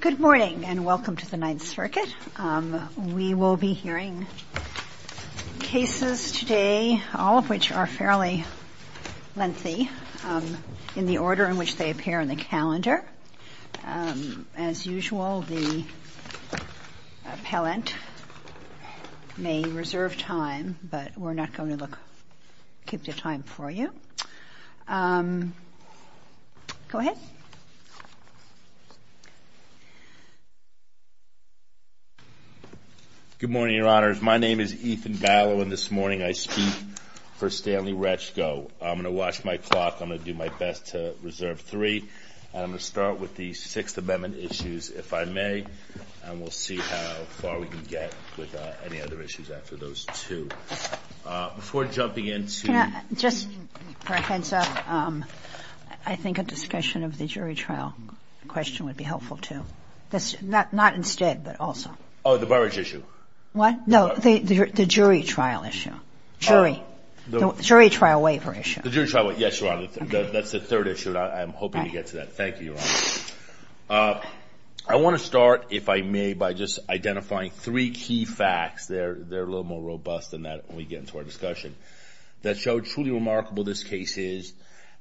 Good morning and welcome to the Ninth Circuit. We will be hearing cases today, all of which are fairly lengthy in the order in which they appear in the calendar. As usual, the appellant may reserve time, but we're not going to keep the time for you. Go ahead. ETHAN BALLOW Good morning, Your Honors. My name is Ethan Ballow, and this morning I speak for Stanley Reczko. I'm going to watch my clock. I'm going to do my best to reserve three, and I'm going to start with the Sixth Amendment issues, if I may, and we'll see how far we can get with any other issues after those two. Before jumping into the Sixth Amendment, I think a discussion of the jury trial question would be helpful, too. Not instead, but also. I want to start, if I may, by just identifying three key facts that are a little more robust than that when we get into our discussion that show truly remarkable this case is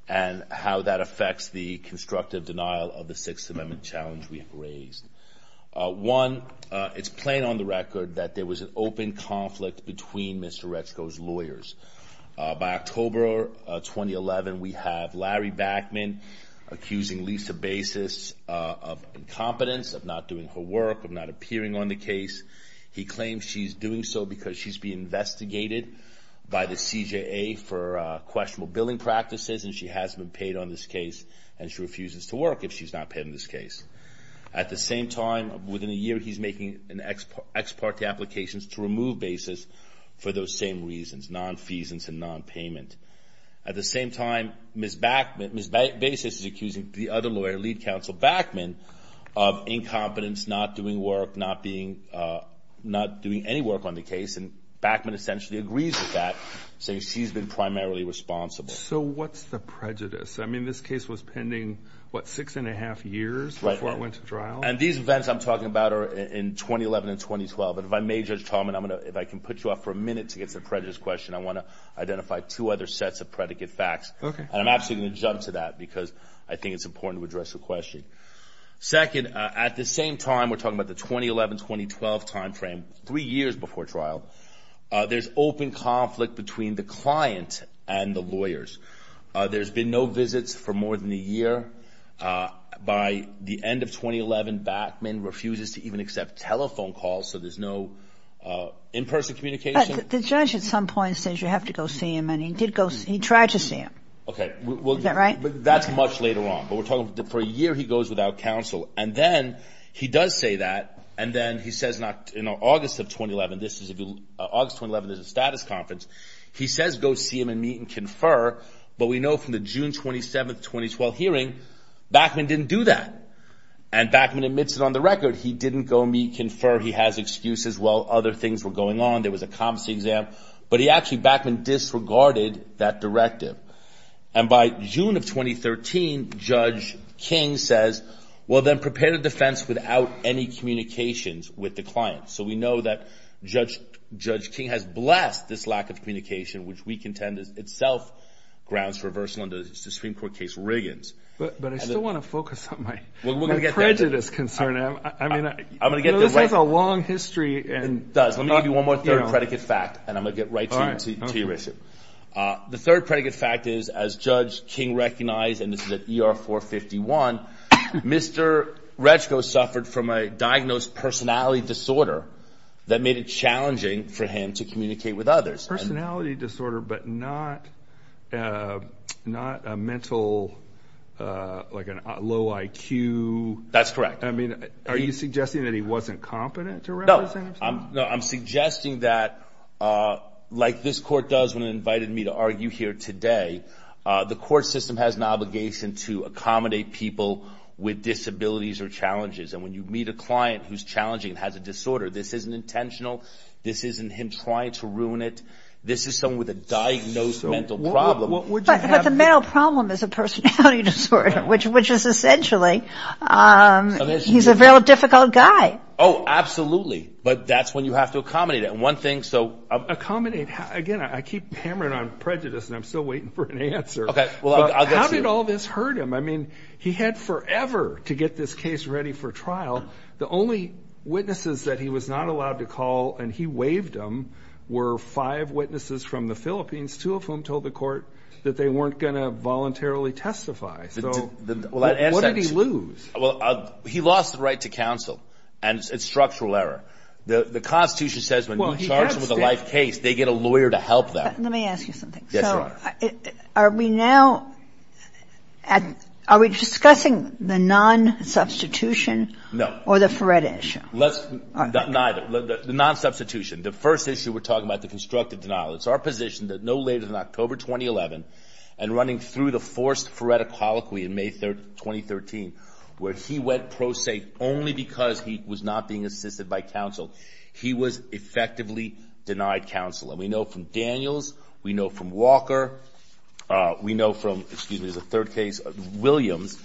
and how that affects the constructive denial of the Sixth Amendment challenge we have raised. One, it's plain on the record that there was an open conflict between Mr. Reczko's lawyers. By October 2011, we have Larry Backman accusing Lisa Basis of incompetence, of not doing her work, of not appearing on the case. He claims she's doing so because she's being investigated by the CJA for questionable billing practices, and she has been paid on this case, and she refuses to work if she's not paid on this case. At the same time, within a year, he's making an ex parte application to remove Basis for those same reasons, nonfeasance and nonpayment. At the same time, Ms. Basis is accusing the other lawyer, Lead Counsel Backman, of incompetence, not doing work, not doing any work on the case, and Backman essentially agrees with that, saying she's been primarily responsible. So what's the prejudice? I mean, this case was pending, what, six and a half years before it went to trial? And these events I'm talking about are in 2011 and 2012, but if I may, Judge Tallman, if I can put you off for a minute to get to the prejudice question, I want to identify two other sets of predicate facts. Okay. And I'm actually going to jump to that because I think it's important to address the question. Second, at the same time, we're talking about the 2011-2012 timeframe, three years before trial, there's open conflict between the client and the lawyers. There's been no visits for more than a year. By the end of 2011, Backman refuses to even accept telephone calls, so there's no in-person communication. But the judge at some point says you have to go see him, and he did go see – he tried to see him. Okay. Is that right? That's much later on, but we're talking for a year he goes without counsel. And then he does say that, and then he says not – in August of 2011, this is – August 2011, there's a status conference. He says go see him and meet and confer, but we know from the June 27, 2012 hearing, Backman didn't do that. And Backman admits it on the record. He didn't go meet, confer. He has excuses. Well, other things were going on. There was a competency exam. But he actually – Backman disregarded that directive. And by June of 2013, Judge King says, well, then prepare the defense without any communications with the client. So we know that Judge King has blessed this lack of communication, which we contend is itself grounds for reversal under the Supreme Court case Riggins. But I still want to focus on my prejudice concern. I'm going to get there. This has a long history. It does. Let me give you one more third predicate fact, and I'm going to get right to your issue. The third predicate fact is, as Judge King recognized, and this is at ER 451, Mr. Retchko suffered from a diagnosed personality disorder that made it challenging for him to communicate with others. Personality disorder but not a mental – like a low IQ. That's correct. I mean, are you suggesting that he wasn't competent to represent himself? No, I'm suggesting that, like this court does when it invited me to argue here today, the court system has an obligation to accommodate people with disabilities or challenges. And when you meet a client who's challenging and has a disorder, this isn't intentional. This isn't him trying to ruin it. This is someone with a diagnosed mental problem. But the mental problem is a personality disorder, which is essentially he's a very difficult guy. Oh, absolutely. But that's when you have to accommodate it. And one thing – so – Accommodate – again, I keep hammering on prejudice, and I'm still waiting for an answer. Okay. How did all this hurt him? I mean, he had forever to get this case ready for trial. The only witnesses that he was not allowed to call and he waived them were five witnesses from the Philippines, two of whom told the court that they weren't going to voluntarily testify. So what did he lose? Well, he lost the right to counsel. And it's structural error. The Constitution says when you charge them with a life case, they get a lawyer to help them. Let me ask you something. Yes, Your Honor. So are we now – are we discussing the non-substitution or the FRED issue? Let's – neither. The non-substitution, the first issue we're talking about, the constructive denial. It's our position that no later than October 2011 and running through the forced FREDA colloquy in May 2013, where he went pro se only because he was not being assisted by counsel, he was effectively denied counsel. And we know from Daniels. We know from Walker. We know from – excuse me, there's a third case, Williams,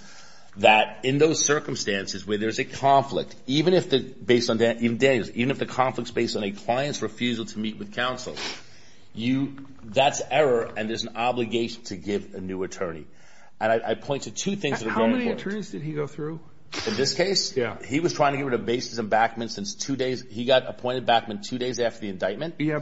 that in those circumstances where there's a conflict, even if the – based on – in Daniels, even if the conflict's based on a client's refusal to meet with counsel, you – that's error and there's an obligation to give a new attorney. And I point to two things that are very important. How many attorneys did he go through? In this case? Yeah. He was trying to get rid of Bases and Backman since two days – he got appointed Backman two days after the indictment. Yeah,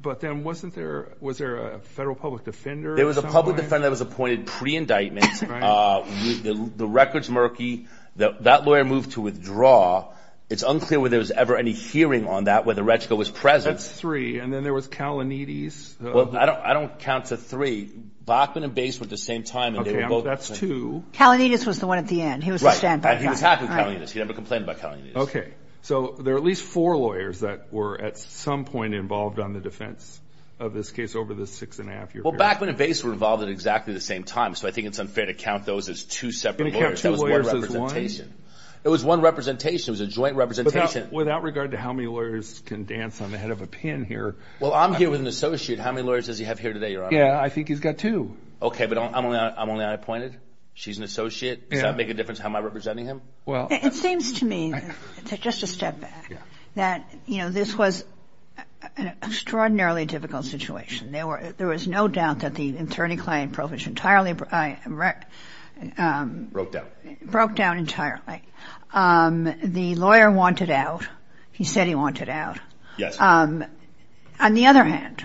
but then wasn't there – was there a federal public defender or somebody? There was a public defender that was appointed pre-indictment. Right. The record's murky. That lawyer moved to withdraw. It's unclear whether there was ever any hearing on that where the reticle was present. That's three. And then there was Kalanides. Well, I don't count to three. Backman and Bases were at the same time. Okay. Well, that's two. Kalanides was the one at the end. He was the stand-by guy. Right. And he was happy with Kalanides. He never complained about Kalanides. Okay. So there were at least four lawyers that were at some point involved on the defense of this case over the six-and-a-half year period. Well, Backman and Bases were involved at exactly the same time. So I think it's unfair to count those as two separate lawyers. That was one representation. It was one representation. It was a joint representation. Without regard to how many lawyers can dance on the head of a pin here. Well, I'm here with an associate. How many lawyers does he have here today, Your Honor? Yeah, I think he's got two. Okay, but I'm only unappointed. She's an associate. Does that make a difference? How am I representing him? It seems to me, just a step back, that, you know, this was an extraordinarily difficult situation. There was no doubt that the attorney-client provision entirely broke down. Broke down entirely. The lawyer wanted out. He said he wanted out. Yes. On the other hand,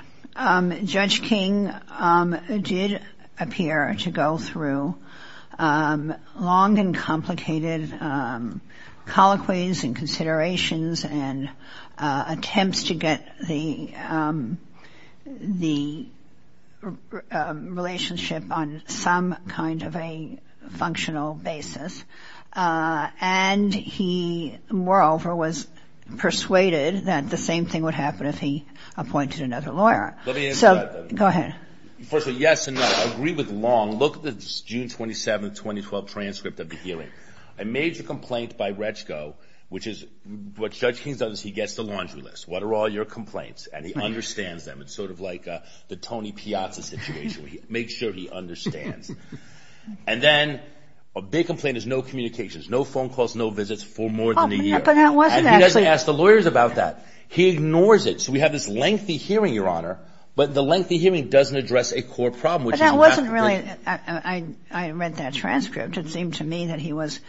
Judge King did appear to go through long and complicated colloquies and considerations and attempts to get the relationship on some kind of a functional basis. And he, moreover, was persuaded that the same thing would happen if he appointed another lawyer. So, go ahead. First of all, yes and no. I agree with long. Look at the June 27, 2012 transcript of the hearing. A major complaint by Retschko, which is what Judge King does is he gets the laundry list. What are all your complaints? And he understands them. It's sort of like the Tony Piazza situation where he makes sure he understands. And then a big complaint is no communications, no phone calls, no visits for more than a year. And he doesn't ask the lawyers about that. He ignores it. So we have this lengthy hearing, Your Honor, but the lengthy hearing doesn't address a core problem. But that wasn't really, I read that transcript. It seemed to me that he was,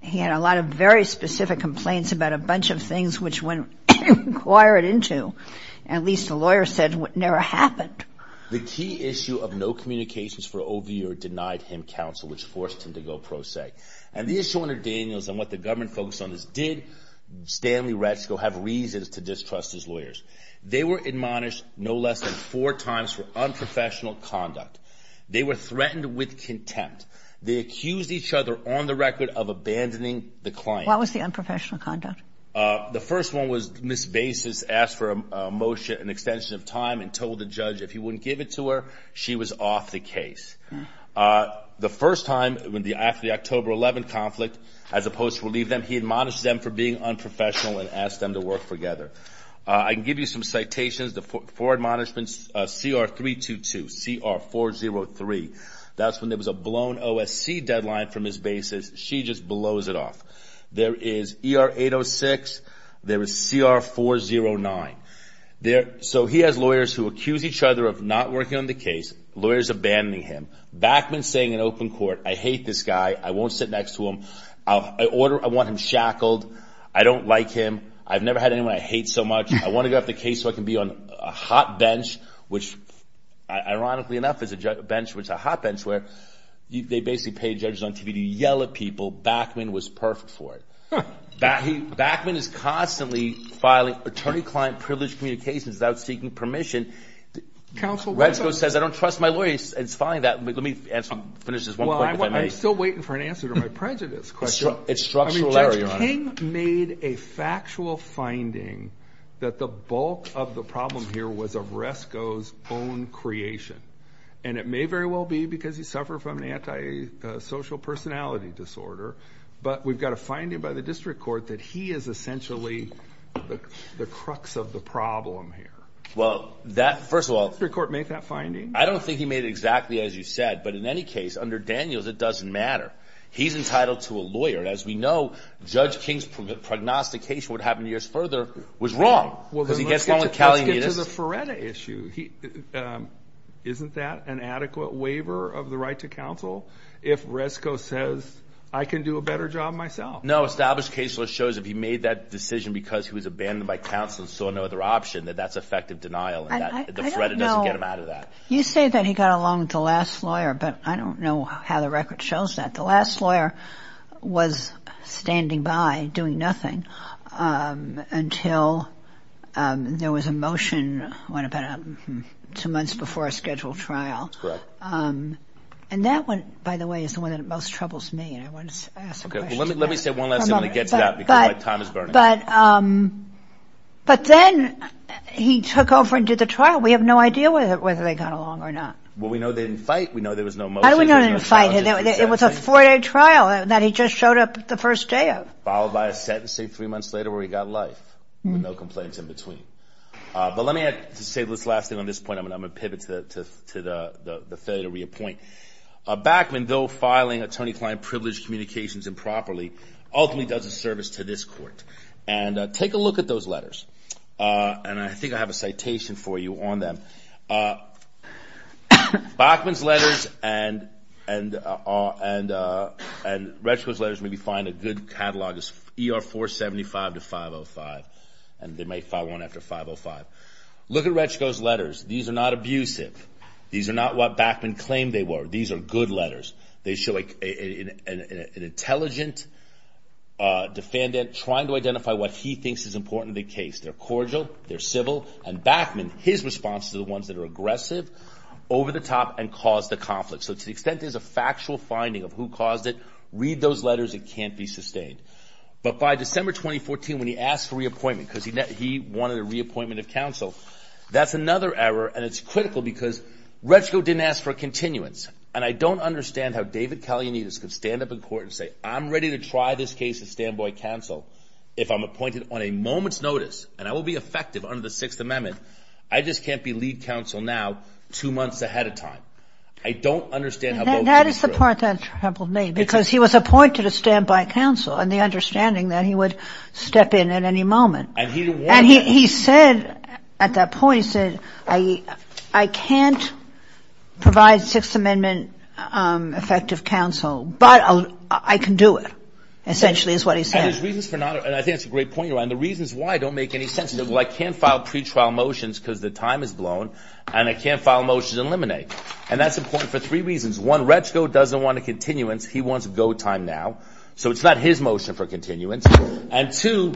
he had a lot of very specific complaints about a bunch of things, which when inquired into, at least the lawyer said, never happened. The key issue of no communications for over a year denied him counsel, which forced him to go pro se. And the issue under Daniels and what the government focused on is did Stanley Retschko have reasons to distrust his lawyers? They were admonished no less than four times for unprofessional conduct. They were threatened with contempt. They accused each other on the record of abandoning the client. What was the unprofessional conduct? The first one was Ms. Basis asked for a motion, an extension of time, and told the judge if he wouldn't give it to her, she was off the case. The first time, after the October 11th conflict, as opposed to relieve them, he admonished them for being unprofessional and asked them to work together. I can give you some citations. The four admonishments, CR 322, CR 403, that's when there was a blown OSC deadline for Ms. Basis. She just blows it off. There is ER 806. There is CR 409. So he has lawyers who accuse each other of not working on the case, lawyers abandoning him. Backman saying in open court, I hate this guy. I won't sit next to him. I want him shackled. I don't like him. I've never had anyone I hate so much. I want to go off the case so I can be on a hot bench, which ironically enough is a hot bench where they basically pay judges on TV to yell at people. Backman was perfect for it. Backman is constantly filing attorney-client privileged communications without seeking permission. Resco says I don't trust my lawyers. It's fine. Let me finish this one point. I'm still waiting for an answer to my prejudice question. It's structural. Jerry, your honor. King made a factual finding that the bulk of the problem here was of Resco's own creation, and it may very well be because he suffered from an antisocial personality disorder, but we've got a finding by the district court that he is essentially the crux of the problem here. Well, first of all, I don't think he made it exactly as you said, but in any case, under Daniels, it doesn't matter. He's entitled to a lawyer. As we know, Judge King's prognostication would happen years further was wrong. Let's get to the Feretta issue. Isn't that an adequate waiver of the right to counsel if Resco says I can do a better job myself? No, established case law shows if he made that decision because he was abandoned by counsel and saw no other option, that that's effective denial. The Feretta doesn't get him out of that. You say that he got along with the last lawyer, but I don't know how the record shows that. I think the last lawyer was standing by doing nothing until there was a motion about two months before a scheduled trial. And that one, by the way, is the one that most troubles me. Let me say one last thing when we get to that because my time is burning. But then he took over and did the trial. We have no idea whether they got along or not. Well, we know they didn't fight. We know there was no motion. How do we know they didn't fight? It was a four-day trial that he just showed up the first day of. Followed by a sentencing three months later where he got life with no complaints in between. But let me say this last thing on this point. I'm going to pivot to the failure to reappoint. Bachman, though filing attorney-client privileged communications improperly, ultimately does a service to this court. And take a look at those letters. And I think I have a citation for you on them. Bachman's letters and Retschko's letters may be fine. A good catalog is ER 475 to 505. And they may file one after 505. Look at Retschko's letters. These are not abusive. These are not what Bachman claimed they were. These are good letters. They show an intelligent defendant trying to identify what he thinks is important to the case. They're cordial. They're civil. And Bachman, his response to the ones that are aggressive, over the top and caused the conflict. So to the extent there's a factual finding of who caused it, read those letters. It can't be sustained. But by December 2014, when he asked for reappointment because he wanted a reappointment of counsel, that's another error. And it's critical because Retschko didn't ask for a continuance. And I don't understand how David Kalianidis could stand up in court and say, I'm ready to try this case at standby counsel if I'm appointed on a moment's notice and I will be effective under the Sixth Amendment. I just can't be lead counsel now two months ahead of time. I don't understand how those things work. That is the part that troubled me because he was appointed at standby counsel and the understanding that he would step in at any moment. And he didn't want to. And he said at that point, he said, I can't provide Sixth Amendment effective counsel, but I can do it essentially is what he said. And his reasons for not, and I think that's a great point you're on, the reasons why don't make any sense. Well, I can't file pretrial motions because the time is blown and I can't file a motion to eliminate. And that's important for three reasons. One, Retschko doesn't want a continuance. He wants a go time now. So it's not his motion for continuance. And two,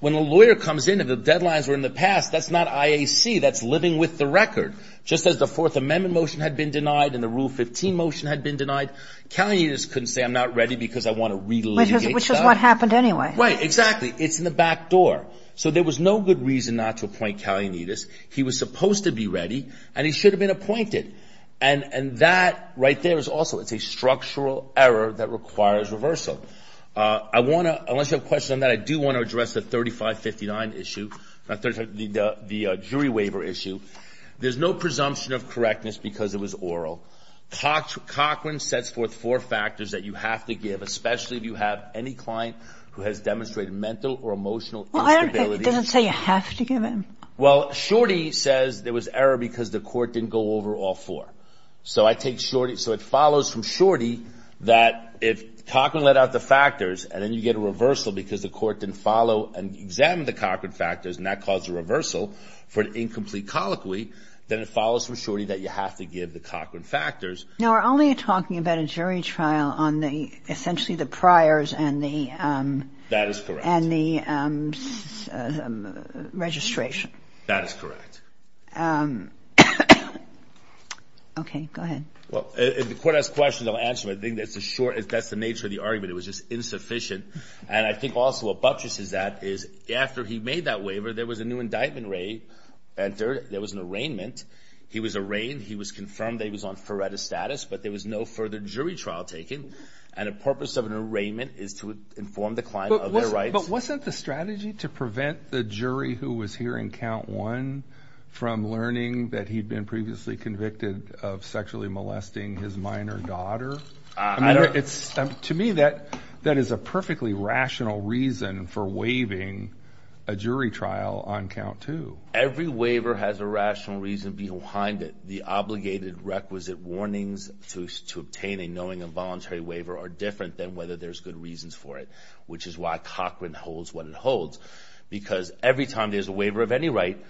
when a lawyer comes in and the deadlines were in the past, that's not IAC. That's living with the record. Just as the Fourth Amendment motion had been denied and the Rule 15 motion had been denied, Kalianides couldn't say I'm not ready because I want to relitigate. Which is what happened anyway. Right, exactly. It's in the back door. So there was no good reason not to appoint Kalianides. He was supposed to be ready and he should have been appointed. And that right there is also, it's a structural error that requires reversal. I want to, unless you have questions on that, I do want to address the 3559 issue, the jury waiver issue. There's no presumption of correctness because it was oral. Cochran sets forth four factors that you have to give, especially if you have any client who has demonstrated mental or emotional instability. Well, I don't think it doesn't say you have to give him. Well, Shorty says there was error because the court didn't go over all four. So I take Shorty, so it follows from Shorty that if Cochran let out the factors and then you get a reversal because the court didn't follow and examine the Cochran factors and that caused a reversal for an incomplete colloquy, then it follows from Shorty that you have to give the Cochran factors. Now, we're only talking about a jury trial on essentially the priors and the registration. That is correct. Okay, go ahead. Well, if the court has questions, I'll answer them. I think that's the nature of the argument. It was just insufficient. And I think also what buttresses that is after he made that waiver, there was a new indictment re-entered. There was an arraignment. He was arraigned. He was confirmed that he was on FREDA status, but there was no further jury trial taken. And the purpose of an arraignment is to inform the client of their rights. But wasn't the strategy to prevent the jury who was hearing count one from learning that he'd been previously convicted of sexually molesting his minor daughter? To me, that is a perfectly rational reason for waiving a jury trial on count two. Every waiver has a rational reason behind it. The obligated requisite warnings to obtain a knowing and voluntary waiver are different than whether there's good reasons for it, which is why Cochran holds what it holds. Because every time there's a waiver of any right,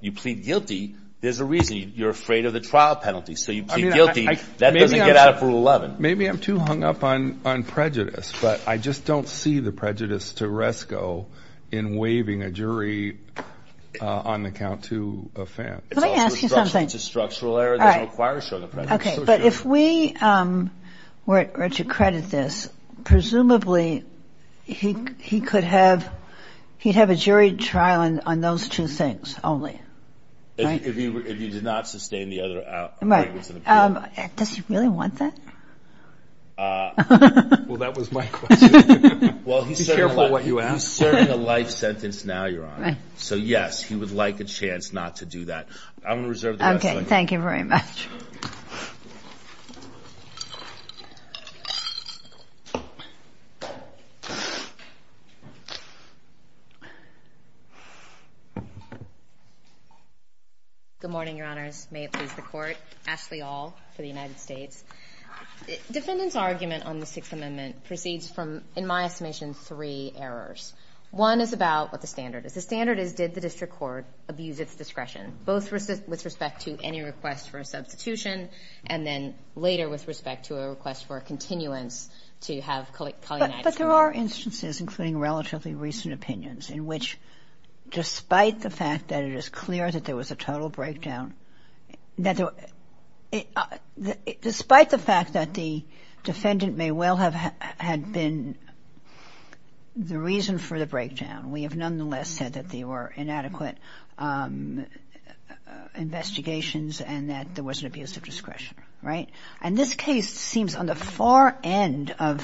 you plead guilty, there's a reason. You're afraid of the trial penalty, so you plead guilty. That doesn't get out of Rule 11. Maybe I'm too hung up on prejudice, but I just don't see the prejudice to RESCO in waiving a jury on the count two offense. Let me ask you something. It's a structural error that requires showing a prejudice. Okay, but if we were to credit this, presumably he could have – he'd have a jury trial on those two things only, right? If he did not sustain the other – Right. Does he really want that? Well, that was my question. Well, he's serving a life sentence now, Your Honor. So, yes, he would like a chance not to do that. I'm going to reserve the rest. Okay, thank you very much. Good morning, Your Honors. May it please the Court. Ashley Aul for the United States. Defendant's argument on the Sixth Amendment proceeds from, in my estimation, three errors. One is about what the standard is. The standard is, did the district court abuse its discretion, both with respect to any request for a substitution, and then later with respect to a request for a continuance to have Culley– But there are instances, including relatively recent opinions, in which despite the fact that it is clear that there was a total breakdown, that – despite the fact that the defendant may well have had been the reason for the breakdown, we have nonetheless said that there were inadequate investigations and that there was an abuse of discretion, right? And this case seems on the far end of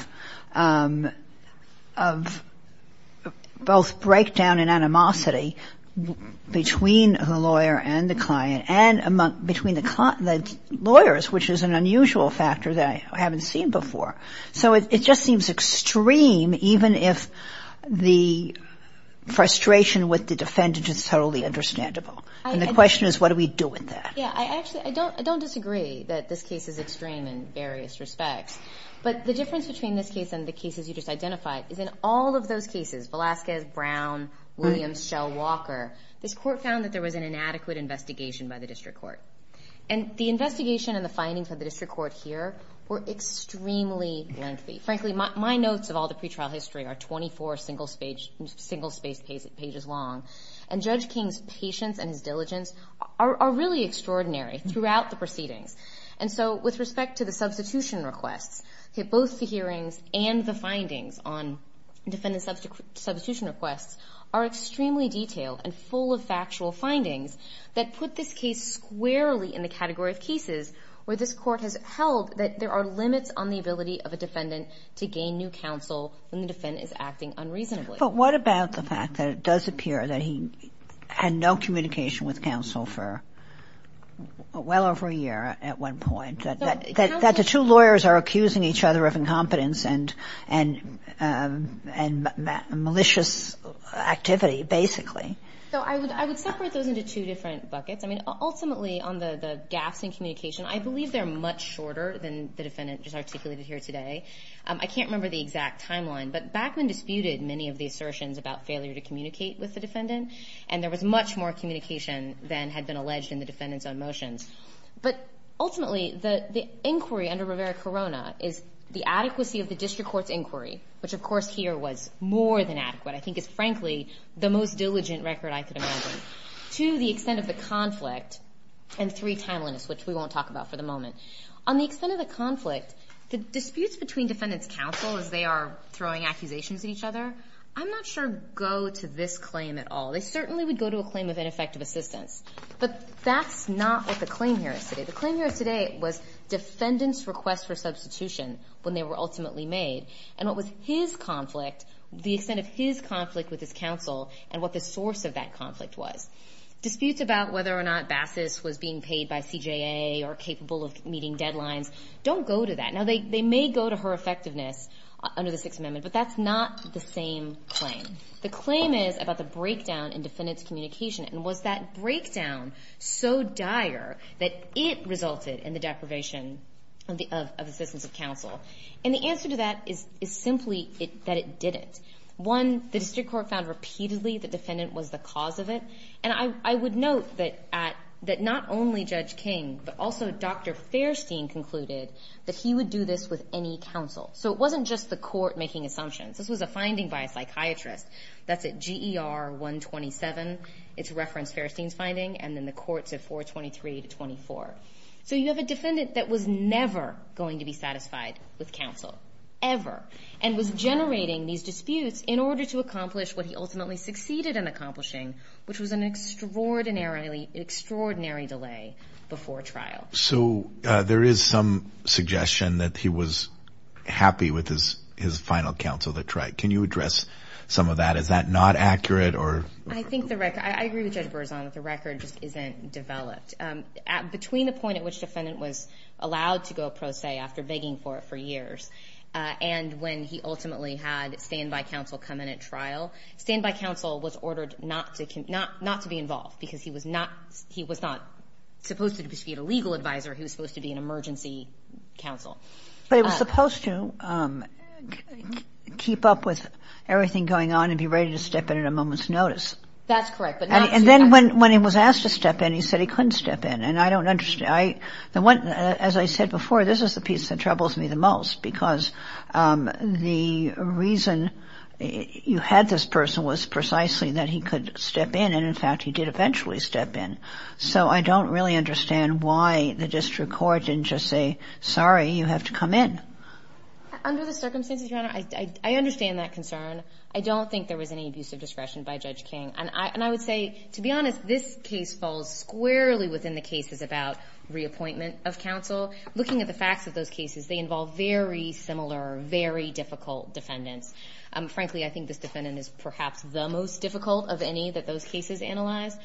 both breakdown and animosity between the lawyer and the client and between the lawyers, which is an unusual factor that I haven't seen before. So it just seems extreme, even if the frustration with the defendant is totally understandable. And the question is, what do we do with that? Yeah, I actually – I don't disagree that this case is extreme in various respects. But the difference between this case and the cases you just identified is in all of those cases – Velazquez, Brown, Williams, Shell, Walker – this court found that there was an inadequate investigation by the district court. And the investigation and the findings of the district court here were extremely lengthy. Frankly, my notes of all the pretrial history are 24 single-spaced pages long. And Judge King's patience and his diligence are really extraordinary throughout the proceedings. And so with respect to the substitution requests, both the hearings and the findings on defendant substitution requests are extremely detailed and full of factual findings that put this case squarely in the category of cases where this court has held that there are limits on the ability of a defendant to gain new counsel when the defendant is acting unreasonably. But what about the fact that it does appear that he had no communication with counsel for well over a year at one point, that the two lawyers are accusing each other of incompetence and malicious activity, basically? So I would separate those into two different buckets. I mean, ultimately, on the gaps in communication, I believe they're much shorter than the defendant just articulated here today. I can't remember the exact timeline. But Backman disputed many of the assertions about failure to communicate with the defendant. And there was much more communication than had been alleged in the defendant's own motions. But ultimately, the inquiry under Rivera-Corona is the adequacy of the district court's inquiry, which of course here was more than adequate. I think it's frankly the most diligent record I could imagine. Two, the extent of the conflict. And three, timeliness, which we won't talk about for the moment. On the extent of the conflict, the disputes between defendants' counsel as they are throwing accusations at each other, I'm not sure go to this claim at all. They certainly would go to a claim of ineffective assistance. But that's not what the claim here is today. The claim here today was defendants' request for substitution when they were ultimately made. And what was his conflict, the extent of his conflict with his counsel and what the source of that conflict was. Disputes about whether or not Bassus was being paid by CJA or capable of meeting deadlines don't go to that. Now, they may go to her effectiveness under the Sixth Amendment. But that's not the same claim. The claim is about the breakdown in defendants' communication. And was that breakdown so dire that it resulted in the deprivation of assistance of counsel? And the answer to that is simply that it didn't. One, the district court found repeatedly the defendant was the cause of it. And I would note that not only Judge King but also Dr. Fairstein concluded that he would do this with any counsel. So it wasn't just the court making assumptions. This was a finding by a psychiatrist. That's at GER 127. It's referenced Fairstein's finding. And then the courts at 423 to 24. So you have a defendant that was never going to be satisfied with counsel, ever. And was generating these disputes in order to accomplish what he ultimately succeeded in accomplishing, which was an extraordinary delay before trial. So there is some suggestion that he was happy with his final counsel that tried. Can you address some of that? Is that not accurate? I agree with Judge Berzon that the record just isn't developed. Between the point at which the defendant was allowed to go pro se after begging for it for years and when he ultimately had standby counsel come in at trial, standby counsel was ordered not to be involved because he was not supposed to be a supervisor, he was supposed to be an emergency counsel. But he was supposed to keep up with everything going on and be ready to step in at a moment's notice. That's correct. And then when he was asked to step in, he said he couldn't step in. And I don't understand. As I said before, this is the piece that troubles me the most because the reason you had this person was precisely that he could step in. And, in fact, he did eventually step in. So I don't really understand why the district court didn't just say, sorry, you have to come in. Under the circumstances, Your Honor, I understand that concern. I don't think there was any abuse of discretion by Judge King. And I would say, to be honest, this case falls squarely within the cases about reappointment of counsel. Looking at the facts of those cases, they involve very similar, very difficult defendants. Frankly, I think this defendant is perhaps the most difficult of any that those cases analyze.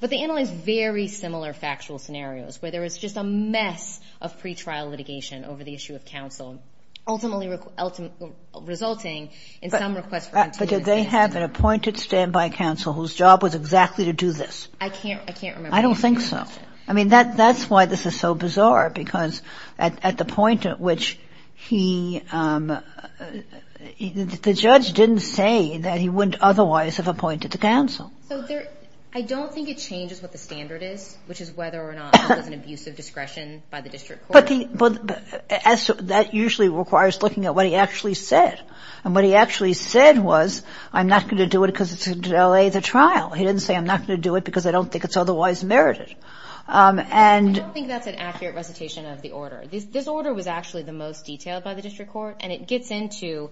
But they analyze very similar factual scenarios, where there was just a mess of pretrial litigation over the issue of counsel, ultimately resulting in some request for continuity. But did they have an appointed standby counsel whose job was exactly to do this? I can't remember. I don't think so. I mean, that's why this is so bizarre, because at the point at which he – the judge didn't say that he wouldn't otherwise have appointed the counsel. So I don't think it changes what the standard is, which is whether or not there was an abuse of discretion by the district court. But that usually requires looking at what he actually said. And what he actually said was, I'm not going to do it because it's going to delay the trial. He didn't say, I'm not going to do it because I don't think it's otherwise merited. I don't think that's an accurate recitation of the order. This order was actually the most detailed by the district court. And it gets into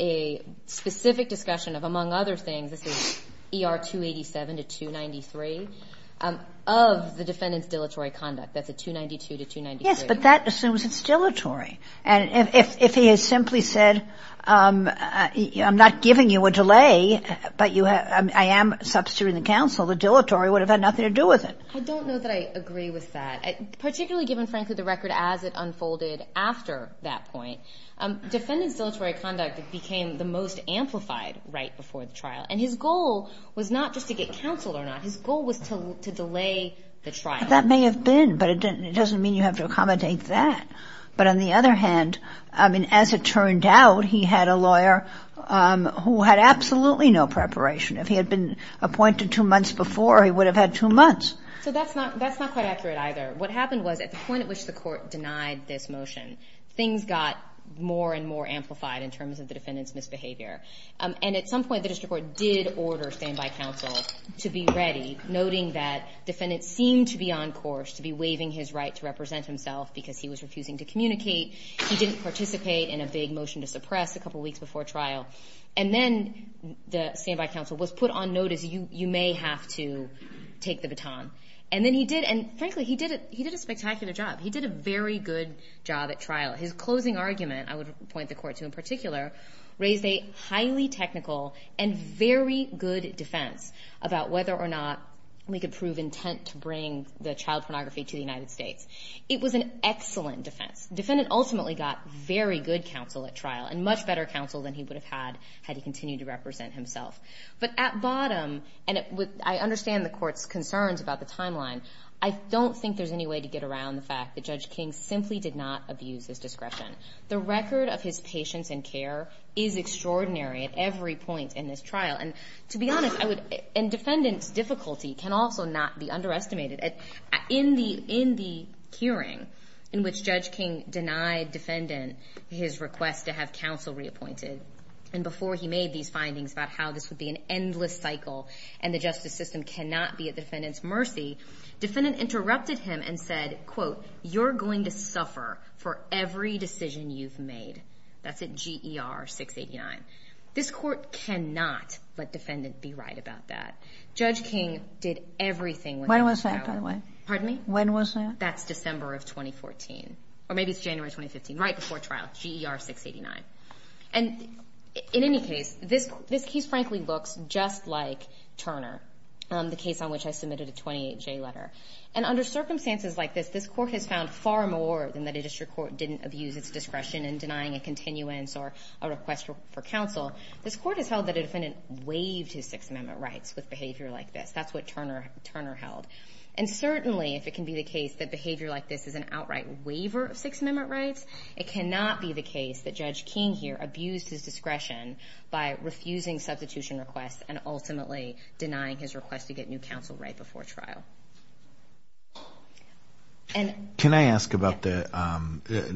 a specific discussion of, among other things, this is ER 287 to 293, of the defendant's dilatory conduct. That's a 292 to 293. Yes, but that assumes it's dilatory. And if he had simply said, I'm not giving you a delay, but I am substituting the counsel, the dilatory would have had nothing to do with it. I don't know that I agree with that, particularly given, frankly, the record as it unfolded after that point. Defendant's dilatory conduct became the most amplified right before the trial. And his goal was not just to get counsel or not. His goal was to delay the trial. That may have been, but it doesn't mean you have to accommodate that. But on the other hand, I mean, as it turned out, he had a lawyer who had absolutely no preparation. If he had been appointed two months before, he would have had two months. So that's not quite accurate either. What happened was at the point at which the court denied this motion, things got more and more amplified in terms of the defendant's misbehavior. And at some point, the district court did order standby counsel to be ready, noting that defendants seemed to be on course to be waiving his right to represent himself because he was refusing to communicate. He didn't participate in a big motion to suppress a couple weeks before trial. And then the standby counsel was put on notice, you may have to take the baton. And then he did, and frankly, he did a spectacular job. He did a very good job at trial. His closing argument, I would point the court to in particular, raised a highly technical and very good defense about whether or not we could prove intent to bring the child pornography to the United States. It was an excellent defense. The defendant ultimately got very good counsel at trial and much better counsel than he would have had had he continued to represent himself. But at bottom, and I understand the court's concerns about the timeline, I don't think there's any way to get around the fact that Judge King simply did not abuse his discretion. The record of his patience and care is extraordinary at every point in this trial. And to be honest, I would, and defendant's difficulty can also not be underestimated. In the hearing in which Judge King denied defendant his request to have counsel reappointed, and before he made these findings about how this would be an endless cycle and the justice system cannot be at defendant's mercy, defendant interrupted him and said, quote, you're going to suffer for every decision you've made. That's at GER 689. This court cannot let defendant be right about that. Judge King did everything within his power. When was that, by the way? Pardon me? When was that? That's December of 2014. Or maybe it's January 2015, right before trial, GER 689. And in any case, this case frankly looks just like Turner, the case on which I submitted a 28J letter. And under circumstances like this, this court has found far more than that a district court didn't abuse its discretion in denying a continuance or a request for counsel. This court has held that a defendant waived his Sixth Amendment rights with behavior like this. That's what Turner held. And certainly, if it can be the case that behavior like this is an outright waiver of Sixth Amendment rights, it cannot be the case that Judge King here abused his discretion by refusing substitution requests and ultimately denying his request to get new counsel right before trial. Can I ask about the –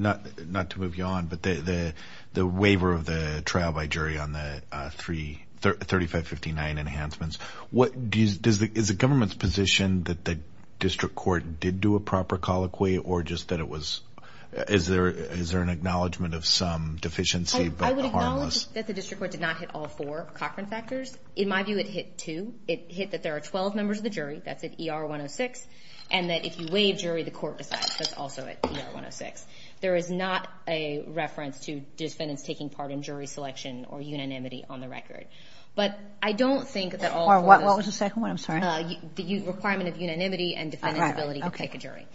not to move you on, but the waiver of the trial by jury on the 3559 enhancements. Is the government's position that the district court did do a proper colloquy or just that it was – is there an acknowledgment of some deficiency? I would acknowledge that the district court did not hit all four Cochran factors. In my view, it hit two. It hit that there are 12 members of the jury. That's at ER 106. And that if you waive jury, the court decides. That's also at ER 106. There is not a reference to defendants taking part in jury selection or unanimity on the record. But I don't think that all four of those – What was the second one? I'm sorry. The requirement of unanimity and defendant's ability to pick a jury.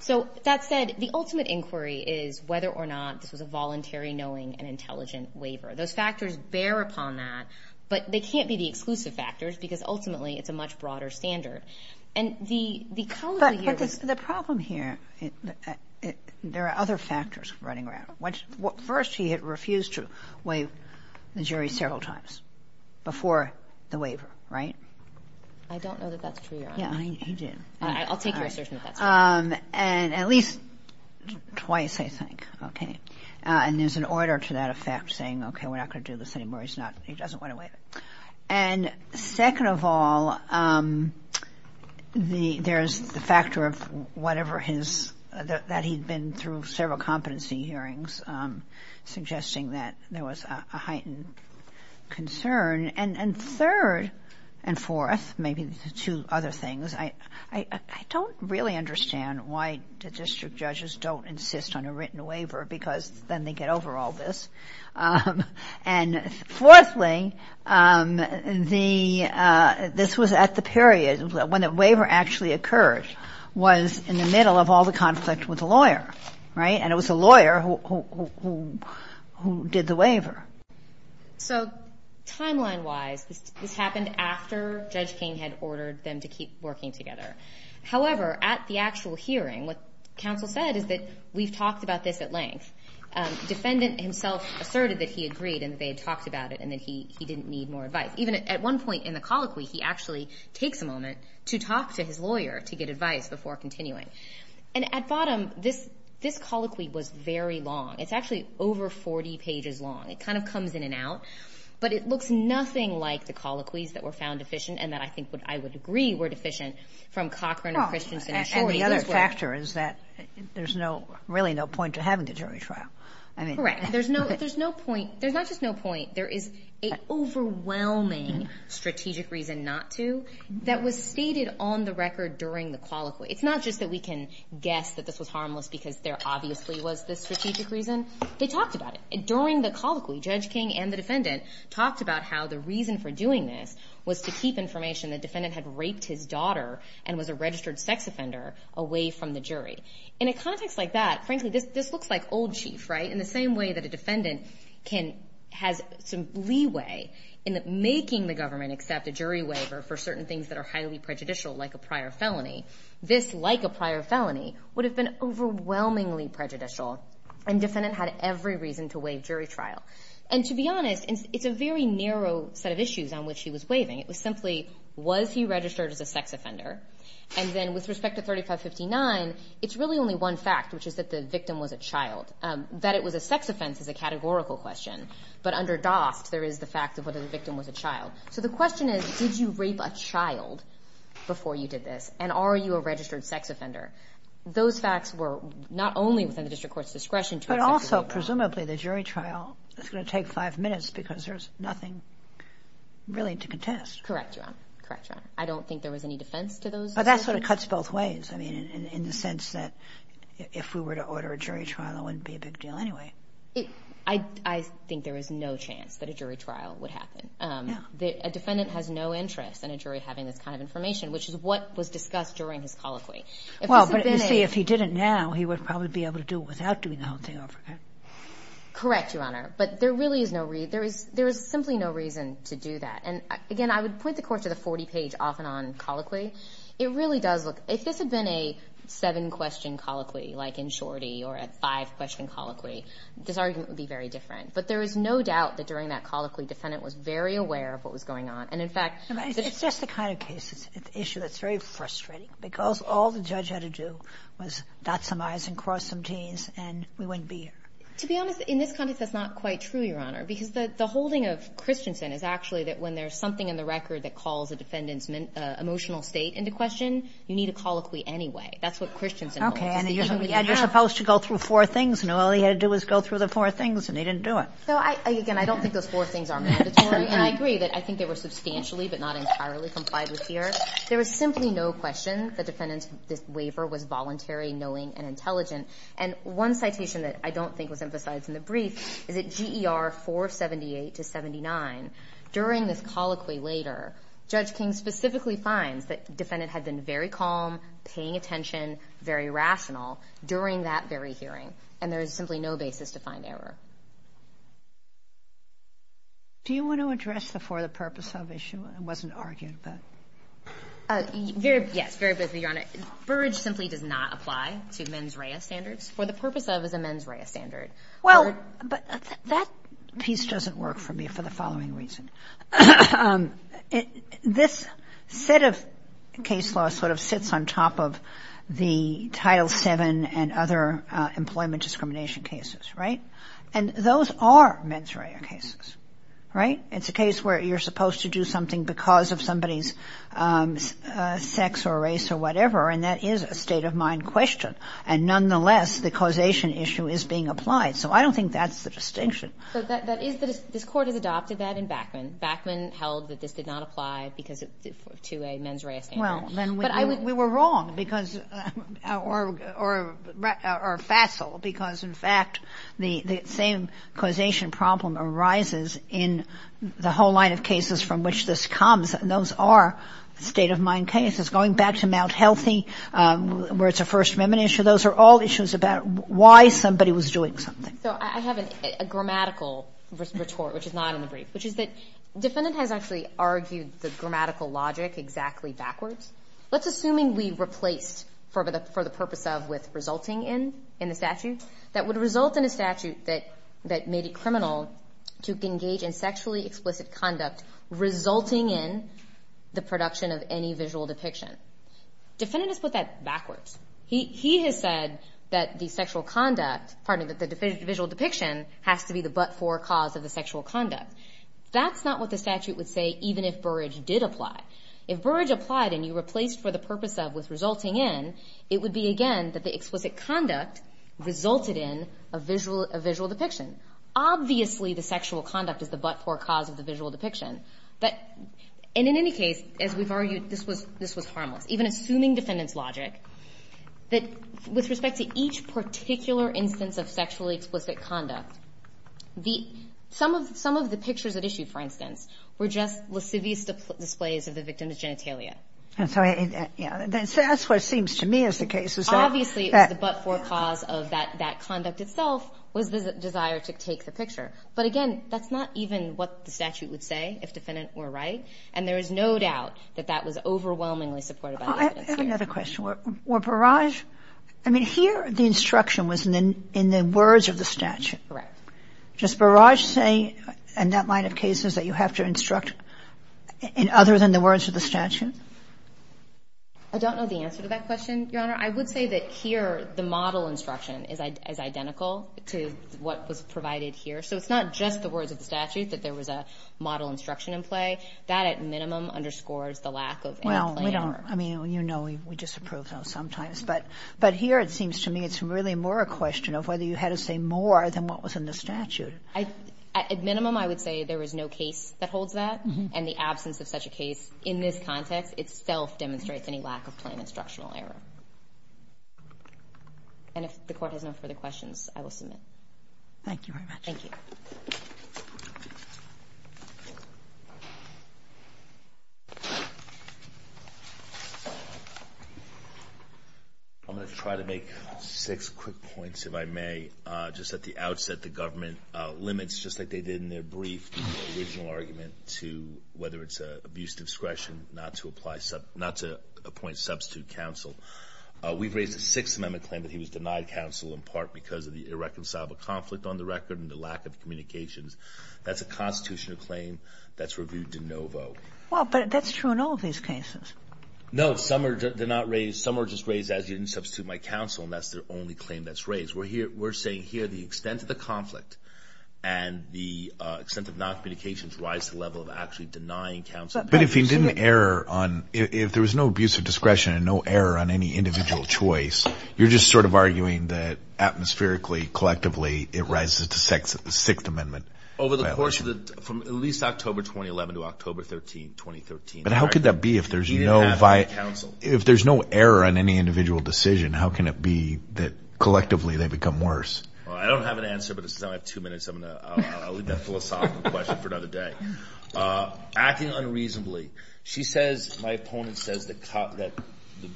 So that said, the ultimate inquiry is whether or not this was a voluntary, knowing, and intelligent waiver. Those factors bear upon that, but they can't be the exclusive factors because ultimately it's a much broader standard. And the – But the problem here, there are other factors running around. First, he had refused to waive the jury several times before the waiver, right? I don't know that that's true, Your Honor. Yeah, he did. I'll take your assertion if that's true. And at least twice, I think. Okay. And there's an order to that effect saying, okay, we're not going to do this anymore. He's not – he doesn't want to waive it. And second of all, there's the factor of whatever his – that he'd been through several competency hearings suggesting that there was a heightened concern. And third and fourth, maybe the two other things, I don't really understand why the district judges don't insist on a written waiver because then they get over all this. And fourthly, the – this was at the period when the waiver actually occurred, was in the middle of all the conflict with the lawyer, right? And it was the lawyer who did the waiver. So timeline-wise, this happened after Judge King had ordered them to keep working together. However, at the actual hearing, what counsel said is that we've talked about this at length. Defendant himself asserted that he agreed and that they had talked about it and that he didn't need more advice. Even at one point in the colloquy, he actually takes a moment to talk to his lawyer to get advice before continuing. And at bottom, this colloquy was very long. It's actually over 40 pages long. It kind of comes in and out. But it looks nothing like the colloquies that were found deficient and that I think I would agree were deficient from Cochran, Christiansen, and Shorey. The other factor is that there's no – really no point to having a jury trial. Correct. There's no point – there's not just no point. There is an overwhelming strategic reason not to that was stated on the record during the colloquy. It's not just that we can guess that this was harmless because there obviously was this strategic reason. They talked about it. During the colloquy, Judge King and the defendant talked about how the reason for doing this was to keep information the defendant had raped his daughter and was a registered sex offender away from the jury. In a context like that, frankly, this looks like old chief, right, in the same way that a defendant has some leeway in making the government accept a jury waiver for certain things that are highly prejudicial like a prior felony. This, like a prior felony, would have been overwhelmingly prejudicial, and defendant had every reason to waive jury trial. And to be honest, it's a very narrow set of issues on which he was waiving. It was simply, was he registered as a sex offender? And then with respect to 3559, it's really only one fact, which is that the victim was a child. That it was a sex offense is a categorical question, but under DOST there is the fact of whether the victim was a child. So the question is, did you rape a child before you did this, and are you a registered sex offender? Those facts were not only within the district court's discretion to accept a jury trial. That's going to take five minutes because there's nothing really to contest. Correct, Your Honor. Correct, Your Honor. I don't think there was any defense to those decisions. But that sort of cuts both ways, I mean, in the sense that if we were to order a jury trial, it wouldn't be a big deal anyway. I think there is no chance that a jury trial would happen. A defendant has no interest in a jury having this kind of information, which is what was discussed during his colloquy. Well, but you see, if he did it now, he would probably be able to do it without doing the whole thing over again. Correct, Your Honor. But there really is no reason, there is simply no reason to do that. And, again, I would point the court to the 40-page off-and-on colloquy. It really does look, if this had been a seven-question colloquy like in Shorty or a five-question colloquy, this argument would be very different. But there is no doubt that during that colloquy, the defendant was very aware of what was going on. And, in fact— It's just the kind of case, it's an issue that's very frustrating because all the judge had to do was dot some i's and cross some t's, and we wouldn't be here. To be honest, in this context, that's not quite true, Your Honor, because the holding of Christensen is actually that when there's something in the record that calls a defendant's emotional state into question, you need a colloquy anyway. That's what Christensen holds. Okay. And you're supposed to go through four things, and all he had to do was go through the four things, and he didn't do it. So, again, I don't think those four things are mandatory. And I agree that I think they were substantially but not entirely complied with here. There was simply no question the defendant's waiver was voluntary, knowing, and intelligent. And one citation that I don't think was emphasized in the brief is that GER 478 to 79, during this colloquy later, Judge King specifically finds that the defendant had been very calm, paying attention, very rational during that very hearing, and there is simply no basis to find error. Do you want to address the for the purpose of issue? Yes, very briefly, Your Honor. Burrage simply does not apply to mens rea standards. For the purpose of is a mens rea standard. Well, but that piece doesn't work for me for the following reason. This set of case law sort of sits on top of the Title VII and other employment discrimination cases, right? And those are mens rea cases, right? It's a case where you're supposed to do something because of somebody's sex or race or whatever, and that is a state-of-mind question. And nonetheless, the causation issue is being applied. So I don't think that's the distinction. This Court has adopted that in Backman. Backman held that this did not apply to a mens rea standard. We were wrong, or facile, because, in fact, the same causation problem arises in the whole line of cases from which this comes, and those are state-of-mind cases. Going back to Mount Healthy, where it's a First Amendment issue, those are all issues about why somebody was doing something. So I have a grammatical retort, which is not in the brief, which is that defendant has actually argued the grammatical logic exactly backwards. Let's assume we replaced for the purpose of with resulting in in the statute that would result in a statute that made it criminal to engage in sexually explicit conduct resulting in the production of any visual depiction. Defendant has put that backwards. He has said that the sexual conduct, pardon me, that the visual depiction has to be the but-for cause of the sexual conduct. That's not what the statute would say even if Burrage did apply. If Burrage applied and you replaced for the purpose of with resulting in, it would be, again, that the explicit conduct resulted in a visual depiction. Obviously, the sexual conduct is the but-for cause of the visual depiction. But in any case, as we've argued, this was harmless. Even assuming defendant's logic, that with respect to each particular instance of sexually explicit conduct, some of the pictures at issue, for instance, were just lascivious displays of the victim's genitalia. And so that's what seems to me is the case. Obviously, it was the but-for cause of that conduct itself was the desire to take the picture. But again, that's not even what the statute would say if defendant were right, and there is no doubt that that was overwhelmingly supported by the defendant. Sotomayor, I have another question. Were Burrage, I mean, here the instruction was in the words of the statute. Correct. Does Burrage say in that line of cases that you have to instruct in other than the words of the statute? I don't know the answer to that question, Your Honor. I would say that here the model instruction is identical to what was provided here. So it's not just the words of the statute that there was a model instruction in play. That, at minimum, underscores the lack of any plan error. Well, we don't – I mean, you know we disapprove of those sometimes. But here it seems to me it's really more a question of whether you had to say more than what was in the statute. At minimum, I would say there was no case that holds that, and the absence of such a case in this context itself demonstrates any lack of plan instructional error. And if the Court has no further questions, I will submit. Thank you very much. Thank you. I'm going to try to make six quick points, if I may. Just at the outset, the government limits, just like they did in their brief original argument, to whether it's an abuse of discretion not to apply – not to appoint substitute counsel. We've raised a Sixth Amendment claim that he was denied counsel in part because of the irreconcilable conflict on the record and the lack of communications. That's a constitutional claim that's reviewed de novo. Well, but that's true in all of these cases. No, some are – they're not raised – some are just raised as you didn't substitute my counsel, and that's the only claim that's raised. We're saying here the extent of the conflict and the extent of noncommunications rise to the level of actually denying counsel. But if he didn't err on – if there was no abuse of discretion and no error on any individual choice, you're just sort of arguing that atmospherically, collectively, it rises to the Sixth Amendment. Over the course of the – from at least October 2011 to October 13, 2013. But how could that be if there's no – He didn't have any counsel. If there's no error on any individual decision, how can it be that collectively they become worse? I don't have an answer, but since I only have two minutes, I'm going to leave that philosophical question for another day. Acting unreasonably. She says – my opponent says that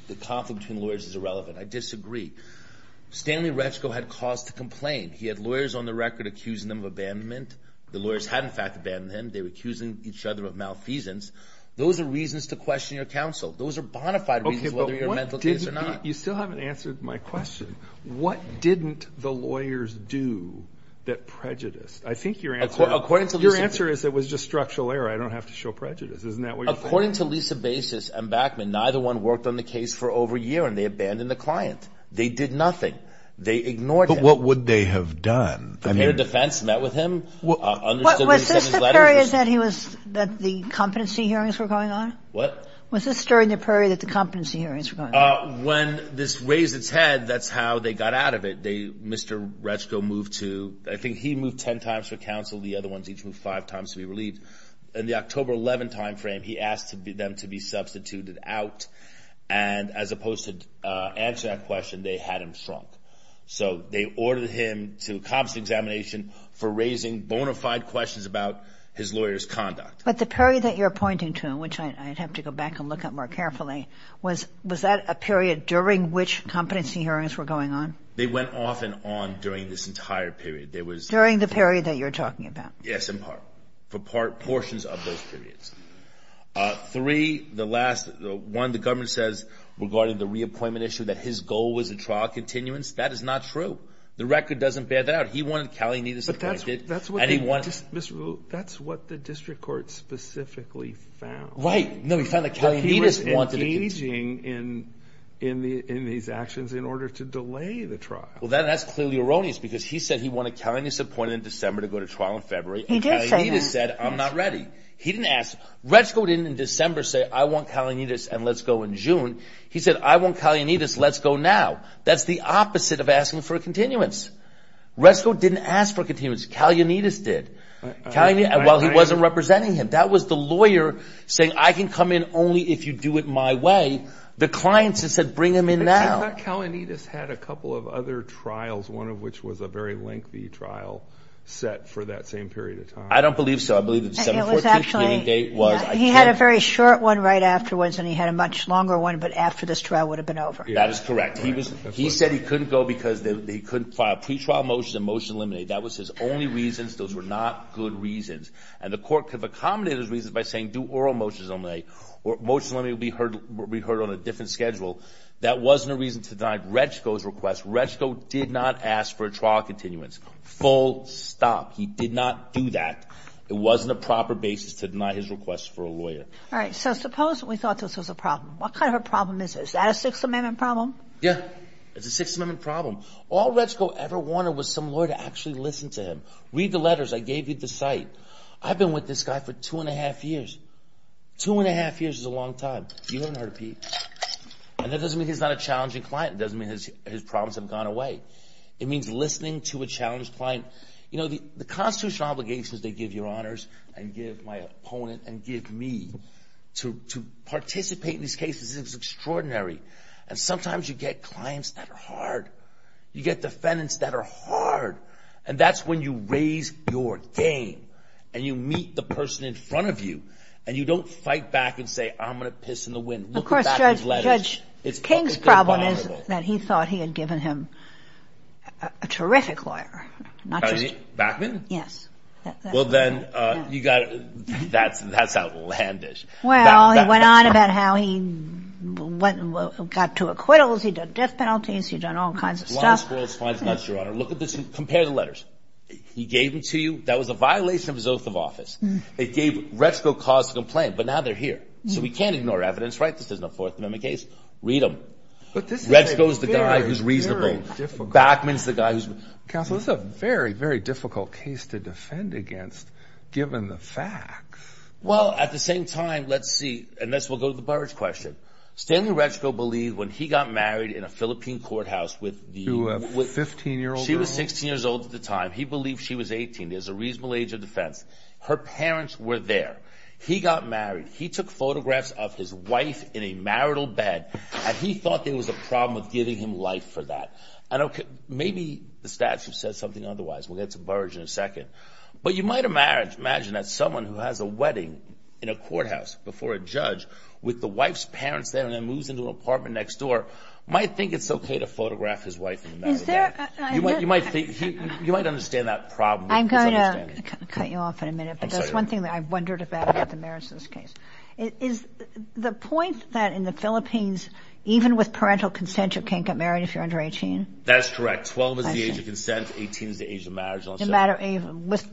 the conflict between lawyers is irrelevant. I disagree. Stanley Retschko had cause to complain. He had lawyers on the record accusing him of abandonment. The lawyers had, in fact, abandoned him. They were accusing each other of malfeasance. Those are reasons to question your counsel. Those are bona fide reasons whether you're a mental case or not. You still haven't answered my question. What didn't the lawyers do that prejudiced? I think your answer – I don't have to show prejudice. Isn't that what you're saying? According to Lisa Basis and Backman, neither one worked on the case for over a year, and they abandoned the client. They did nothing. They ignored him. But what would they have done? Prepared a defense, met with him, understood what he said in his letters. Was this the period that he was – that the competency hearings were going on? What? Was this during the period that the competency hearings were going on? When this raised its head, that's how they got out of it. They – Mr. Retschko moved to – I think he moved ten times for counsel. The other ones each moved five times to be relieved. In the October 11 timeframe, he asked them to be substituted out, and as opposed to answering that question, they had him shrunk. So they ordered him to a competency examination for raising bona fide questions about his lawyer's conduct. But the period that you're pointing to, which I'd have to go back and look at more carefully, was that a period during which competency hearings were going on? They went off and on during this entire period. During the period that you're talking about? Yes, in part. For portions of those periods. Three, the last one, the government says, regarding the reappointment issue, that his goal was a trial continuance. That is not true. The record doesn't bear that out. He wanted to – But that's what the district court specifically found. Right. No, he found that – He was engaging in these actions in order to delay the trial. Well, that's clearly erroneous because he said he wanted Kalianides appointed in December to go to trial in February. He did say that. And Kalianides said, I'm not ready. He didn't ask. Retzko didn't in December say, I want Kalianides and let's go in June. He said, I want Kalianides, let's go now. That's the opposite of asking for a continuance. Retzko didn't ask for a continuance. Kalianides did. While he wasn't representing him. That was the lawyer saying, I can come in only if you do it my way. The client said, bring him in now. I thought Kalianides had a couple of other trials, one of which was a very lengthy trial set for that same period of time. I don't believe so. I believe the December 14th meeting date was – He had a very short one right afterwards and he had a much longer one, but after this trial would have been over. That is correct. He said he couldn't go because he couldn't file pretrial motions and motion to eliminate. That was his only reasons. Those were not good reasons. And the court could have accommodated his reasons by saying do oral motions only or motion to eliminate would be heard on a different schedule. That wasn't a reason to deny Retzko's request. Retzko did not ask for a trial continuance. Full stop. He did not do that. It wasn't a proper basis to deny his request for a lawyer. All right. So suppose we thought this was a problem. What kind of a problem is it? Is that a Sixth Amendment problem? Yeah. It's a Sixth Amendment problem. All Retzko ever wanted was some lawyer to actually listen to him. Read the letters I gave you at the site. I've been with this guy for two and a half years. Two and a half years is a long time. You haven't heard of Pete. And that doesn't mean he's not a challenging client. It doesn't mean his problems have gone away. It means listening to a challenged client. You know, the constitutional obligations they give your honors and give my opponent and give me to participate in these cases is extraordinary. And sometimes you get clients that are hard. You get defendants that are hard. And that's when you raise your game and you meet the person in front of you and you don't fight back and say, I'm going to piss in the wind. Of course, Judge. Judge, King's problem is that he thought he had given him a terrific lawyer. Backman? Yes. Well, then you've got to. That's outlandish. Well, he went on about how he got to acquittals. He did death penalties. He's done all kinds of stuff. Look at this. Compare the letters. He gave them to you. That was a violation of his oath of office. It gave Retsko cause to complain. But now they're here. So we can't ignore evidence. Right? This isn't a Fourth Amendment case. Read them. Retsko's the guy who's reasonable. Backman's the guy who's. Counsel, this is a very, very difficult case to defend against given the facts. Well, at the same time, let's see. And this will go to the barrage question. Stanley Retsko believed when he got married in a Philippine courthouse with the... To a 15-year-old girl? She was 16 years old at the time. He believed she was 18. There's a reasonable age of defense. Her parents were there. He got married. He took photographs of his wife in a marital bed. And he thought there was a problem with giving him life for that. I don't... Maybe the statute says something otherwise. We'll get to barrage in a second. But you might imagine that someone who has a wedding in a courthouse before a judge... With the wife's parents there and then moves into an apartment next door... Might think it's okay to photograph his wife in a marital bed. Is there... You might think... You might understand that problem. I'm going to cut you off in a minute. But there's one thing that I've wondered about the merits of this case. Is the point that in the Philippines, even with parental consent, you can't get married if you're under 18? That's correct. Twelve is the age of consent. Eighteen is the age of marriage. No matter...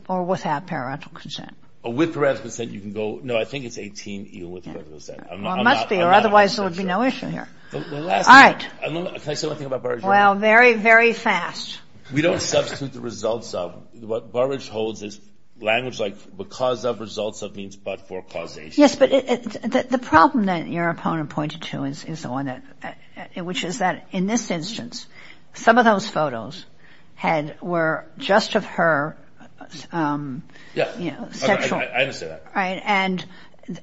Or without parental consent. With parental consent, you can go... No, I think it's 18 even with parental consent. It must be or otherwise there would be no issue here. All right. Can I say one thing about barrage? Well, very, very fast. We don't substitute the results of. What barrage holds is language like because of results of means but for causation. Yes, but the problem that your opponent pointed to is the one that... Which is that in this instance, some of those photos were just of her... Yeah. You know, sexual... I understand that. All right. And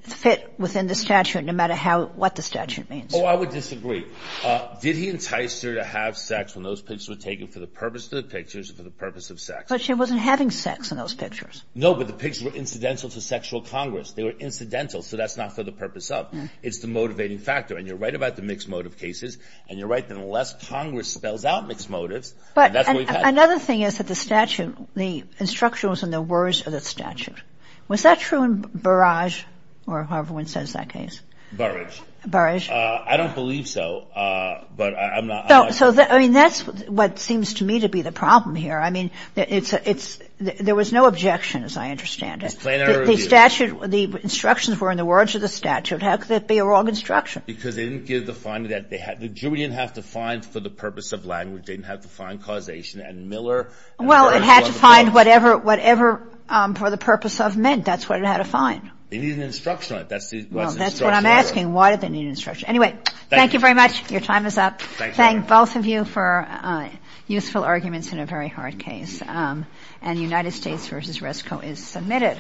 fit within the statute no matter what the statute means. Oh, I would disagree. Did he entice her to have sex when those pictures were taken for the purpose of the pictures and for the purpose of sex? But she wasn't having sex in those pictures. No, but the pictures were incidental to sexual congress. They were incidental, so that's not for the purpose of... No. It's the motivating factor. And you're right about the mixed motive cases. And you're right that unless congress spells out mixed motives... But... And that's what we've had... Another thing is that the statute... The instruction was in the words of the statute. Was that true in barrage or however one says that case? Barrage. Barrage. Barrage. I don't believe so, but I'm not... So, I mean, that's what seems to me to be the problem here. I mean, it's... There was no objection as I understand it. Explain that review. The statute... The instructions were in the words of the statute. How could that be a wrong instruction? Because they didn't give the finding that they had... The jury didn't have to find for the purpose of language. They didn't have to find causation and Miller... Well, it had to find whatever... Whatever for the purpose of men. That's what it had to find. They needed an instruction on it. That's the... Well, that's what I'm asking. Why did they need an instruction? Anyway... Thank you. Thank you very much. Your time is up. Thank you. Thank both of you for useful arguments in a very hard case. And United States v. Resco is submitted.